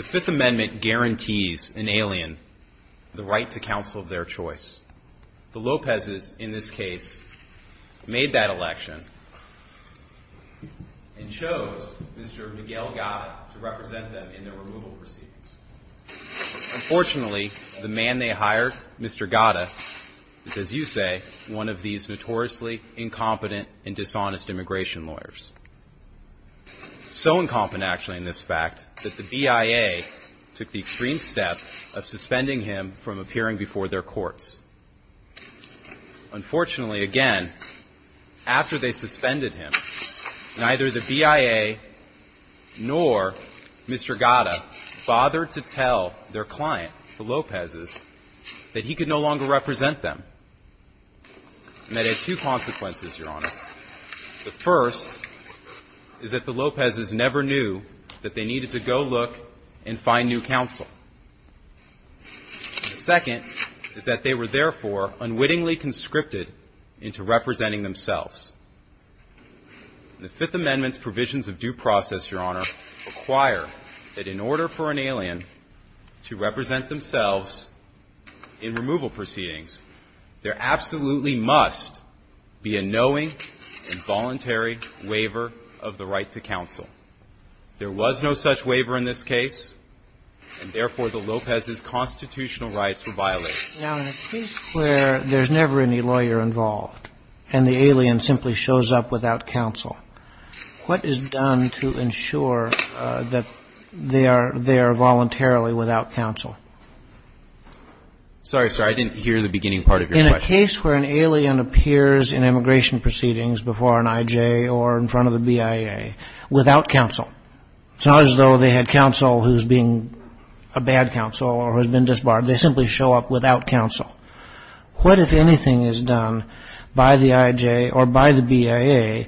5th Amendment guarantees an alien the right to counsel of their choice. The Lopezes, in this case, made that election and chose Mr. Miguel Gata to represent them in the removal proceedings. Unfortunately, the man they hired, Mr. Gata, is, as you say, one of these notoriously incompetent and dishonest immigration lawyers. So incompetent, actually, in this fact, that the BIA took the extreme step of suspending him from appearing before their courts. Unfortunately, again, after they suspended him, neither the BIA nor Mr. Gata bothered to tell their client, the Lopezes, that he could no longer represent them. And that had two consequences, Your Honor. First, they needed to go look and find new counsel. Second, is that they were therefore unwittingly conscripted into representing themselves. The Fifth Amendment's provisions of due process, Your Honor, require that in order for an alien to represent themselves in removal proceedings, there absolutely must be a knowing and voluntary waiver of the right to counsel. There was no such waiver in this case, and therefore, the Lopez's constitutional rights were violated. Now, in a case where there's never any lawyer involved and the alien simply shows up without counsel, what is done to ensure that they are there voluntarily without counsel? Sorry, sir, I didn't hear the beginning part of your question. In a case where an alien appears in immigration proceedings before an I.J. or in front of a BIA without counsel, it's not as though they had counsel who's being a bad counsel or has been disbarred. They simply show up without counsel. What, if anything, is done by the I.J. or by the BIA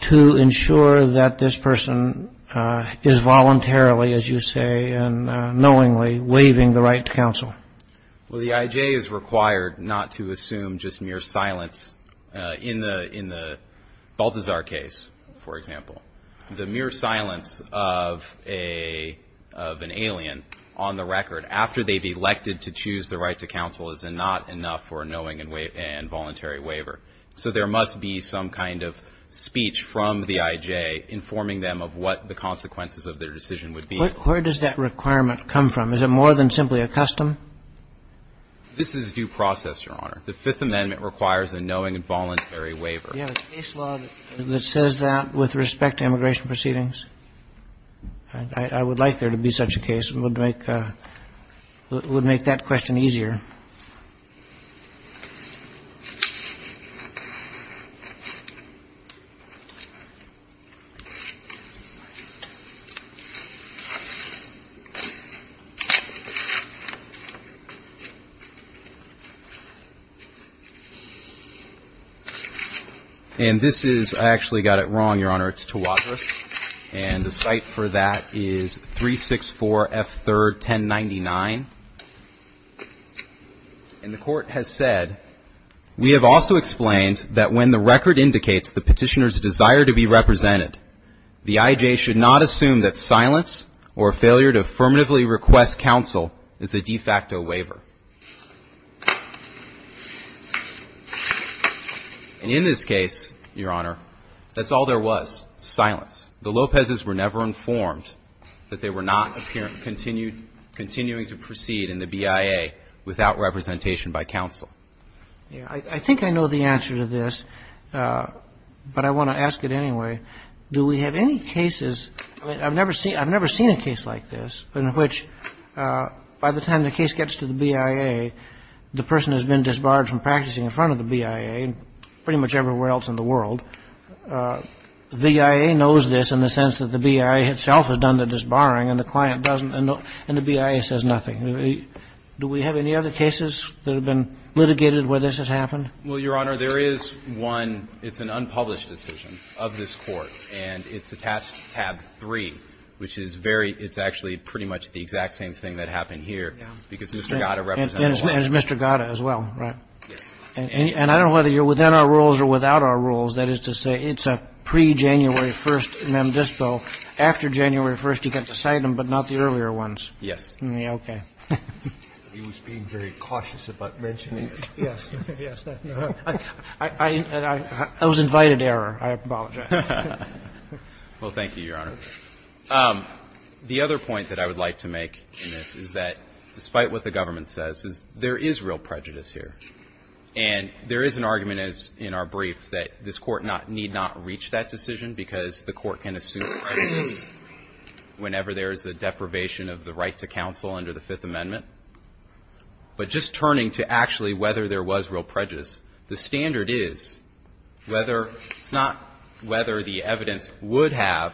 to ensure that this person is voluntarily, as you say, and knowingly waiving the right to counsel? Well, the I.J. is required not to assume just mere silence. In the Balthazar case, for example, the mere silence of an alien on the record after they've elected to choose the right to counsel is not enough for a knowing and voluntary waiver. So there must be some kind of speech from the I.J. informing them of what the consequences of their decision would be. Where does that requirement come from? Is it more than simply a custom? This is due process, Your Honor. The Fifth Amendment requires a knowing and voluntary waiver. You have a case law that says that with respect to immigration proceedings? I would like there to be such a case. It would make that question easier. And this is, I actually got it wrong, Your Honor, it's Tawadros. And the cite for that is 364 F. 3rd 1099. And the Court has said, we have also explained that when the record indicates the petitioner's desire to be represented, the I.J. should not assume that silence or failure to affirmatively request counsel is a de facto waiver. And in this case, Your Honor, that's all there was, silence. The Lopezes were never informed that they were not continuing to proceed in the BIA without representation by counsel. Yeah. I think I know the answer to this, but I want to ask it anyway. Do we have any cases? I mean, I've never seen a case like this in which, by the time the case gets to the BIA, the person has been disbarred from practicing in front of the BIA, pretty much everywhere else in the world. The BIA knows this in the sense that the BIA itself has done the disbarring, and the client doesn't, and the BIA says nothing. Do we have any other cases that have been litigated where this has happened? Well, Your Honor, there is one. It's an unpublished decision of this Court, and it's attached to tab 3, which is very — it's actually pretty much the exact same thing that happened here, because Mr. Gatta represented the one. And it's Mr. Gatta as well, right? Yes. And I don't know whether you're within our rules or without our rules. That is to say, it's a pre-January 1st mem dispo. After January 1st, you get to cite them, but not the earlier ones. Yes. Okay. He was being very cautious about mentioning it. Yes. Yes. I was invited to error. I apologize. Well, thank you, Your Honor. The other point that I would like to make in this is that, despite what the government says, there is real prejudice here. And there is an argument in our brief that this Court need not reach that decision because the Court can assume prejudice whenever there is a deprivation of the right to counsel under the Fifth Amendment. But just turning to actually whether there was real prejudice, the standard is whether — it's not whether the evidence would have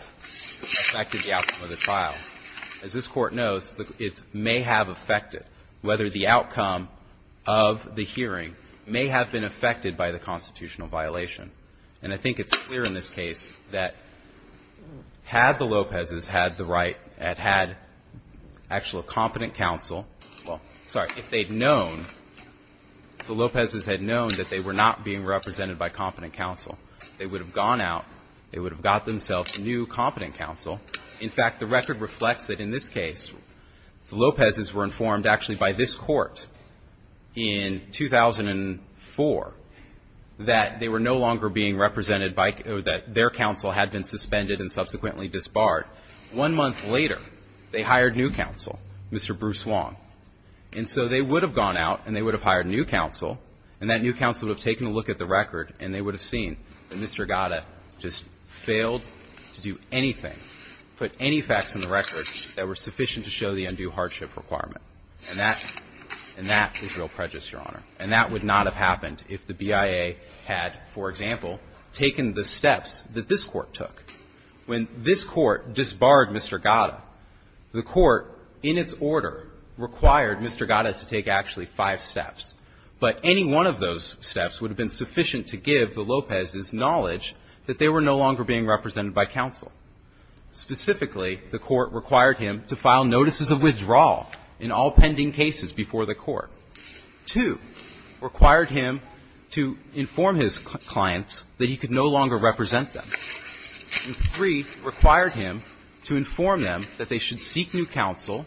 affected the outcome of the hearing. It may have been affected by the constitutional violation. And I think it's clear in this case that had the Lopezes had the right, had had actual competent counsel — well, sorry, if they'd known, if the Lopezes had known that they were not being represented by competent counsel, they would have gone out, they would have got themselves new competent counsel. In fact, the record reflects that in this case, the Lopezes were informed actually by this Court in 2004 that they were no longer being represented by — that their counsel had been suspended and subsequently disbarred. One month later, they hired new counsel, Mr. Bruce Wong. And so they would have gone out and they would have hired new counsel, and that new counsel would have taken a look at the record and they would have seen that Mr. Gatta just failed to do anything, put any facts in the record that were sufficient to show the undue hardship requirement. And that — and that is real prejudice, Your Honor. And that would not have happened if the BIA had, for example, taken the steps that this Court took. When this Court disbarred Mr. Gatta, the Court in its order required Mr. Gatta to take actually five steps. But any one of those steps would have been sufficient to give the Lopezes the knowledge that they were no longer being represented by counsel. Specifically, the Court required him to file notices of withdrawal in all pending cases before the Court. Two, required him to inform his clients that he could no longer represent them. And three, required him to inform them that they should seek new counsel,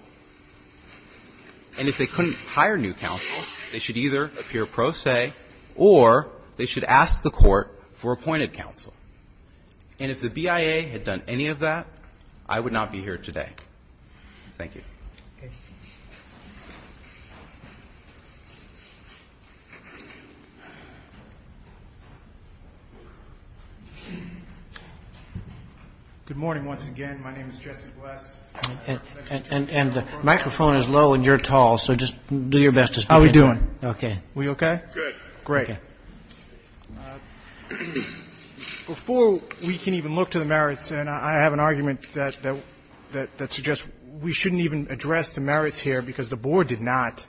and if they couldn't hire new counsel, they should either appear pro se or they should ask the Court for appointed counsel. And if the BIA had done any of that, I would not be here today. Thank you. Good morning once again. My name is Jesse Bless. And the microphone is low and you're tall, so just do your best to speak. Before we can even look to the merits, and I have an argument that suggests we shouldn't even address the merits here because the Board did not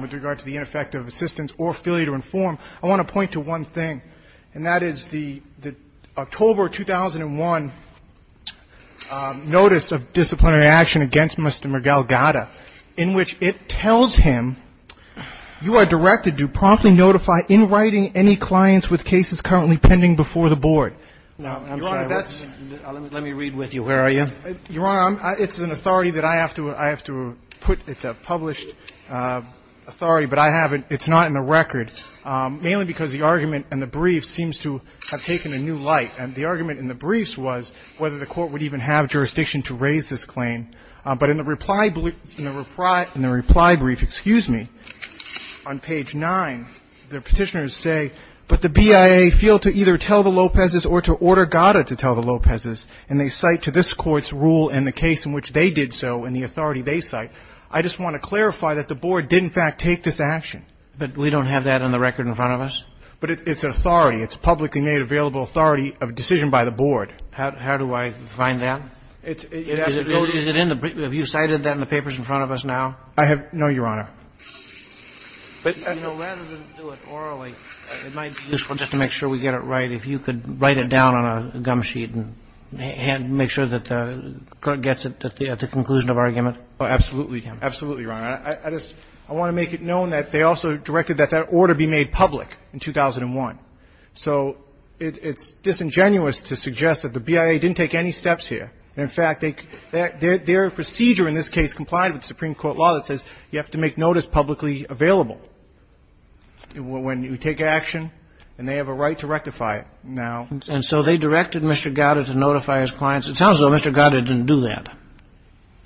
with regard to the ineffective assistance or failure to inform, I want to point to one thing, and that is the October 2001 notice of disciplinary action against Mr. Miguel Gatta in which it tells him, you are directed to promptly notify in writing any clients with cases currently pending before the Board. Let me read with you. Where are you? Your Honor, it's an authority that I have to put. It's a published authority, but I have it. It's not in the record, mainly because the argument in the brief seems to have taken a new light. And the argument in the briefs was whether the Court would even have jurisdiction to raise this claim. But in the reply brief, excuse me, on page 9, the Petitioners say, but the BIA fail to either tell the Lopez's or to order Gatta to tell the Lopez's, and they cite to this Court's rule in the case in which they did so and the authority they cite. I just want to clarify that the Board did in fact take this action. But we don't have that on the record in front of us? But it's an authority. It's publicly made available authority of decision by the Board. How do I find that? It has to be in the brief. I have not, Your Honor. You know, rather than do it orally, it might be useful just to make sure we get it right if you could write it down on a gum sheet and make sure that the Court gets it at the conclusion of argument. Absolutely. Absolutely, Your Honor. I just want to make it known that they also directed that that order be made public in 2001. So it's disingenuous to suggest that the BIA didn't take any steps here. In fact, their procedure in this case complied with the Supreme Court law that says you have to make notice publicly available when you take action. And they have a right to rectify it now. And so they directed Mr. Gowda to notify his clients. It sounds as though Mr. Gowda didn't do that.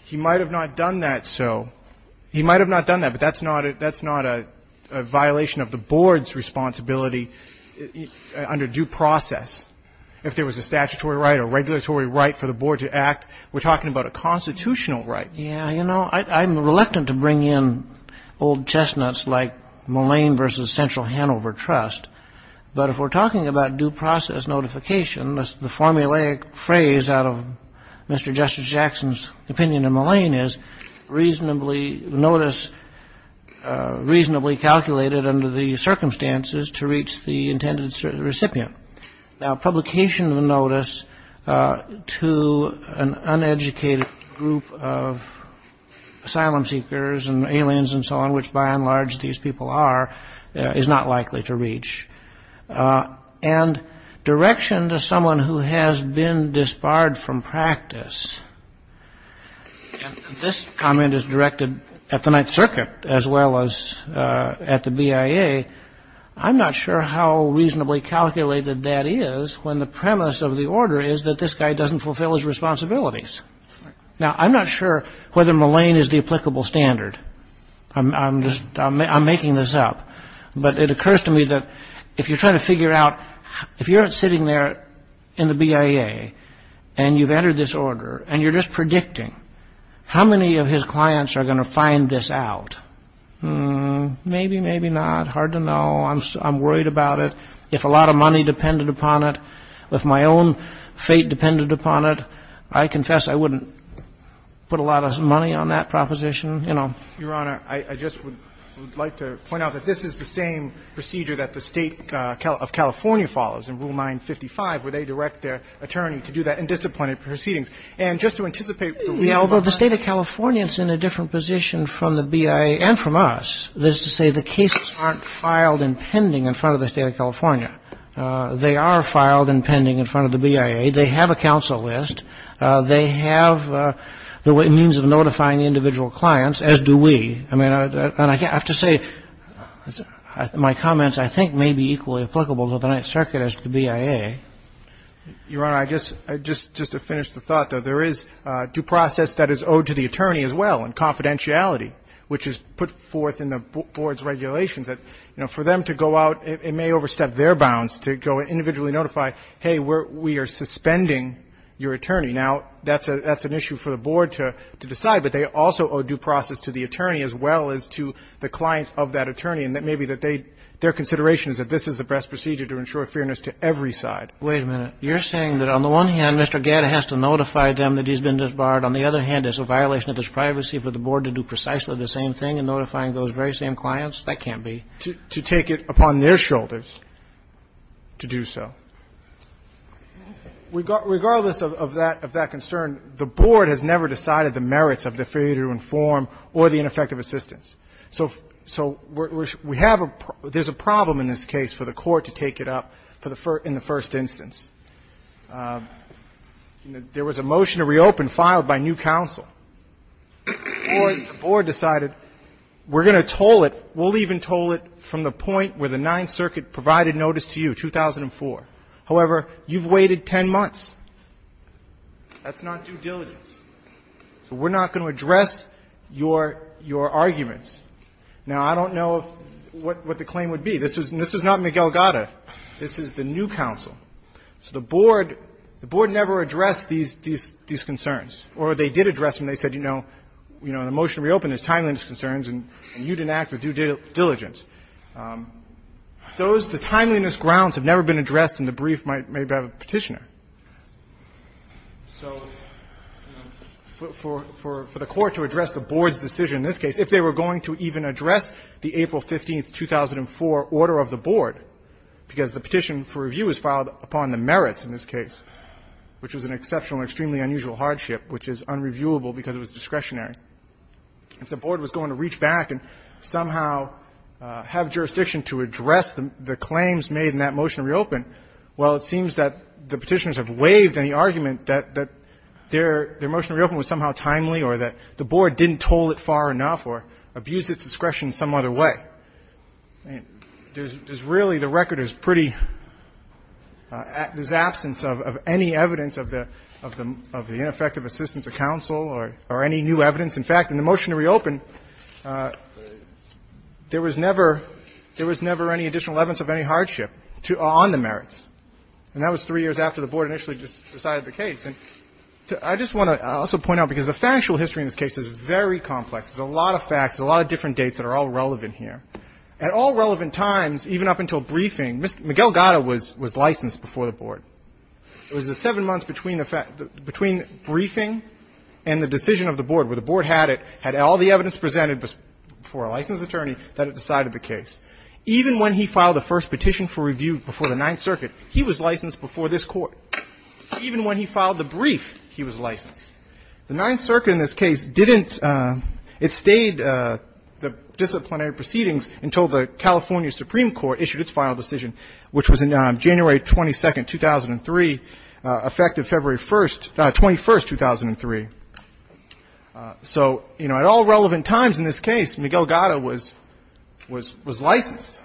He might have not done that. So he might have not done that. But that's not a violation of the Board's responsibility under due process. If there was a statutory right or regulatory right for the Board to act, we're talking about a constitutional right. Yeah, you know, I'm reluctant to bring in old chestnuts like Mullane v. Central Hanover Trust. But if we're talking about due process notification, the formulaic phrase out of Mr. Justice Jackson's opinion of Mullane is notice reasonably calculated under the circumstances to reach the intended recipient. Now, publication of a notice to an uneducated group of asylum seekers and aliens and so on, which by and large these people are, is not likely to reach. And direction to someone who has been disbarred from practice, and this comment is directed at the Ninth Circuit as well as at the BIA, I'm not sure how reasonably calculated that is when the premise of the order is that this guy doesn't fulfill his responsibilities. Now, I'm not sure whether Mullane is the applicable standard. I'm making this up. But it occurs to me that if you're trying to figure out, if you're sitting there in the BIA and you've entered this order and you're just predicting how many of his clients are going to find this out, maybe, maybe not. Hard to know. I'm worried about it. If a lot of money depended upon it, if my own fate depended upon it, I confess I wouldn't put a lot of money on that proposition, you know. Your Honor, I just would like to point out that this is the same procedure that the State of California follows in Rule 955, where they direct their attorney to do that in disappointed proceedings. And just to anticipate the reason why. Although the State of California is in a different position from the BIA and from us, that is to say the cases aren't filed in pending in front of the State of California. They are filed in pending in front of the BIA. They have a counsel list. They have the means of notifying the individual clients, as do we. I mean, I have to say my comments, I think, may be equally applicable to the Ninth Circuit as to the BIA. Your Honor, I guess just to finish the thought, there is due process that is owed to the attorney as well and confidentiality, which is put forth in the board's regulations that, you know, for them to go out, it may overstep their bounds to go and individually notify, hey, we are suspending your attorney. Now, that's an issue for the board to decide. But they also owe due process to the attorney as well as to the clients of that attorney. And that may be that they, their consideration is that this is the best procedure to ensure fairness to every side. Wait a minute. You're saying that on the one hand, Mr. Gadda has to notify them that he's been disbarred. On the other hand, it's a violation of his privacy for the board to do precisely the same thing in notifying those very same clients? That can't be. To take it upon their shoulders to do so. Regardless of that concern, the board has never decided the merits of the failure to inform or the ineffective assistance. So we have a – there's a problem in this case for the court to take it up in the first instance. There was a motion to reopen filed by new counsel. The board decided we're going to toll it. We'll even toll it from the point where the Ninth Circuit provided notice to you, 2004. However, you've waited 10 months. That's not due diligence. So we're not going to address your arguments. Now, I don't know what the claim would be. This was not Miguel Gadda. This is the new counsel. So the board never addressed these concerns. Or they did address them. They said, you know, in the motion to reopen, there's timeliness concerns, and you didn't act with due diligence. Those, the timeliness grounds have never been addressed in the brief made by the Petitioner. So for the court to address the board's decision in this case, if they were going to even address the April 15, 2004, order of the board, because the petition for review was filed upon the merits in this case, which was an exceptional and extremely unusual hardship, which is unreviewable because it was discretionary. If the board was going to reach back and somehow have jurisdiction to address the claims made in that motion to reopen, well, it seems that the Petitioners have waived any argument that their motion to reopen was somehow timely or that the board didn't toll it far enough or abused its discretion in some other way. I mean, there's really, the record is pretty, there's absence of any evidence of the ineffective assistance of counsel or any new evidence. In fact, in the motion to reopen, there was never, there was never any additional evidence of any hardship to, on the merits. And that was three years after the board initially decided the case. And I just want to also point out, because the factual history in this case is very complex. There's a lot of facts, a lot of different dates that are all relevant here. At all relevant times, even up until briefing, Mr. Miguel Gatta was licensed before the board. It was the seven months between the fact, between briefing and the decision of the board, that the board had it, had all the evidence presented before a licensed attorney, that it decided the case. Even when he filed the first petition for review before the Ninth Circuit, he was licensed before this Court. Even when he filed the brief, he was licensed. The Ninth Circuit in this case didn't, it stayed the disciplinary proceedings until the California Supreme Court issued its final decision, which was on January 22nd, 2003, effective February 1st, 21st, 2003. So, you know, at all relevant times in this case, Miguel Gatta was licensed.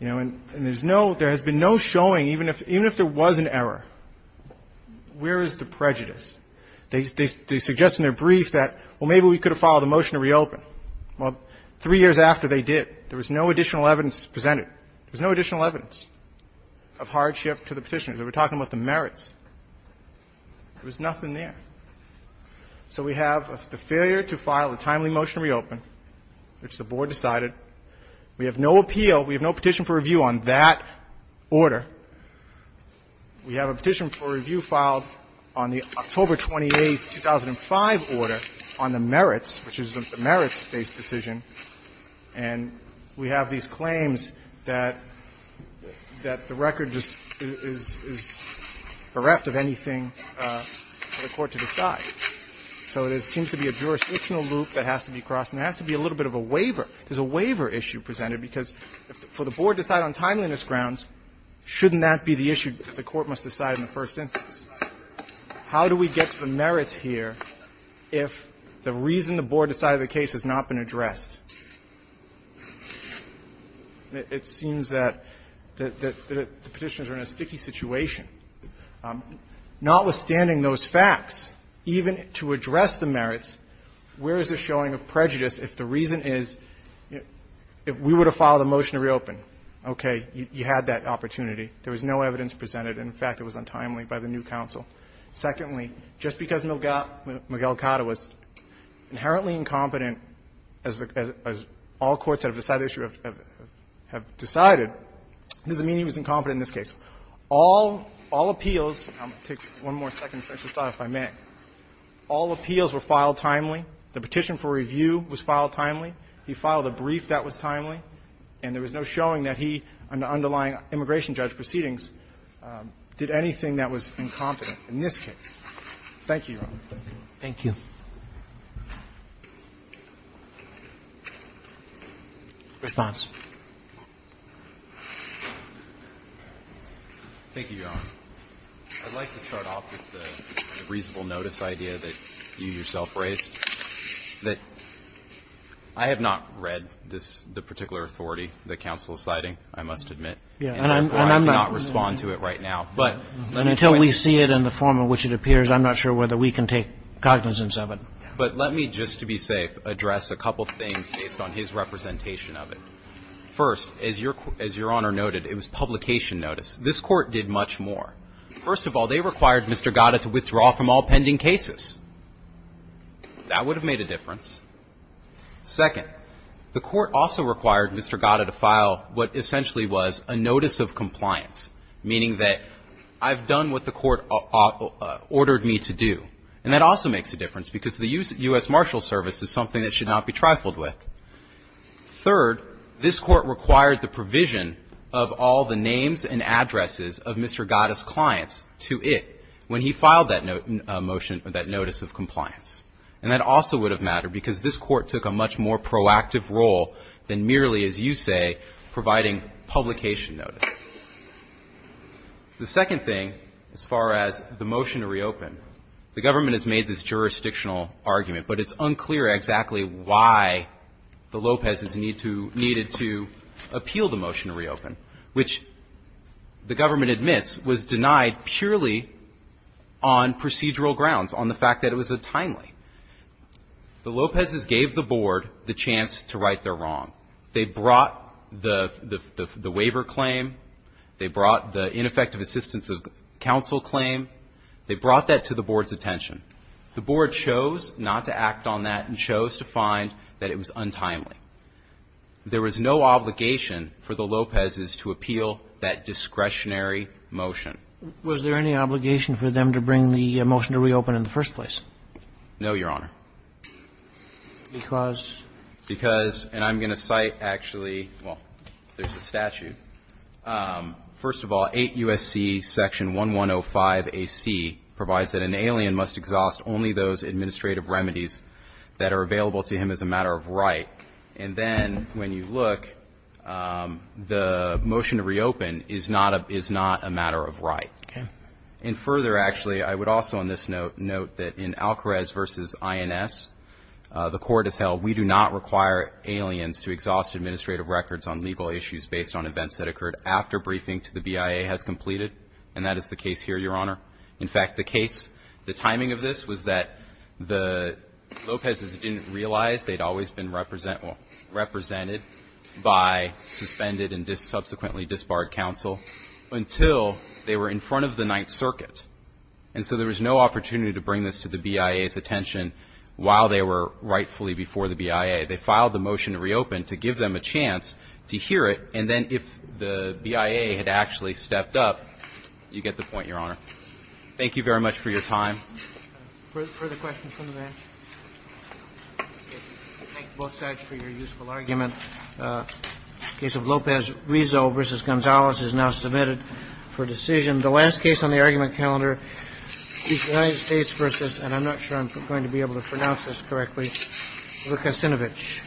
You know, and there's no, there has been no showing, even if there was an error, where is the prejudice? They suggest in their brief that, well, maybe we could have filed a motion to reopen. Well, three years after they did, there was no additional evidence presented. There was no additional evidence of hardship to the petitioner. They were talking about the merits. There was nothing there. So we have the failure to file a timely motion to reopen, which the board decided. We have no appeal, we have no petition for review on that order. We have a petition for review filed on the October 28th, 2005 order on the merits, which is the merits-based decision. And we have these claims that the record just is bereft of anything for the court to decide. So there seems to be a jurisdictional loop that has to be crossed, and there has to be a little bit of a waiver. There's a waiver issue presented, because for the board to decide on timeliness grounds, shouldn't that be the issue that the court must decide in the first instance? How do we get to the merits here if the reason the board decided the case has not been addressed? It seems that the petitioners are in a sticky situation. Notwithstanding those facts, even to address the merits, where is there showing of prejudice if the reason is we would have filed a motion to reopen? Okay, you had that opportunity. There was no evidence presented. In fact, it was untimely by the new counsel. Secondly, just because Miguel Cata was inherently incompetent, as all courts that have decided the issue have decided, doesn't mean he was incompetent in this case. All appeals – I'll take one more second to finish this thought, if I may. All appeals were filed timely. The petition for review was filed timely. He filed a brief that was timely. And there was no showing that he, under underlying immigration judge proceedings, did anything that was incompetent in this case. Thank you, Your Honor. Roberts. Thank you. Response. Thank you, Your Honor. I'd like to start off with the reasonable notice idea that you yourself raised, that I have not read this – the particular authority that counsel is citing, I must not respond to it right now. And until we see it in the form in which it appears, I'm not sure whether we can take cognizance of it. But let me, just to be safe, address a couple of things based on his representation of it. First, as Your Honor noted, it was publication notice. This Court did much more. First of all, they required Mr. Cata to withdraw from all pending cases. That would have made a difference. Second, the Court also required Mr. Cata to file what essentially was a notice of compliance, meaning that I've done what the Court ordered me to do. And that also makes a difference because the U.S. Marshal Service is something that should not be trifled with. Third, this Court required the provision of all the names and addresses of Mr. Cata's clients to it when he filed that motion, that notice of compliance. And that also would have mattered because this Court took a much more proactive role than merely, as you say, providing publication notice. The second thing, as far as the motion to reopen, the government has made this jurisdictional argument, but it's unclear exactly why the Lopezes needed to appeal the motion to reopen, which the government admits was denied purely on procedural grounds, on the fact that it was a timely. The Lopezes gave the Board the chance to right their wrong. They brought the waiver claim. They brought the ineffective assistance of counsel claim. They brought that to the Board's attention. The Board chose not to act on that and chose to find that it was untimely. There was no obligation for the Lopezes to appeal that discretionary motion. Was there any obligation for them to bring the motion to reopen in the first place? No, Your Honor. Because? Because, and I'm going to cite actually, well, there's a statute. First of all, 8 U.S.C. section 1105AC provides that an alien must exhaust only those administrative remedies that are available to him as a matter of right. And then when you look, the motion to reopen is not a matter of right. Okay. And further, actually, I would also on this note note that in Alcarez v. INS, the court has held we do not require aliens to exhaust administrative records on legal issues based on events that occurred after briefing to the BIA has completed. And that is the case here, Your Honor. In fact, the case, the timing of this was that the Lopezes didn't realize they'd always been represented by suspended and subsequently disbarred counsel until they were in front of the Ninth Circuit. And so there was no opportunity to bring this to the BIA's attention while they were rightfully before the BIA. They filed the motion to reopen to give them a chance to hear it. And then if the BIA had actually stepped up, you get the point, Your Honor. Thank you very much for your time. Further questions from the bench? Thank you both sides for your useful argument. Case of Lopez-Rizzo v. Gonzalez is now submitted for decision. The last case on the argument calendar is United States v. and I'm not sure I'm going to be able to pronounce this correctly, Lukasinovich.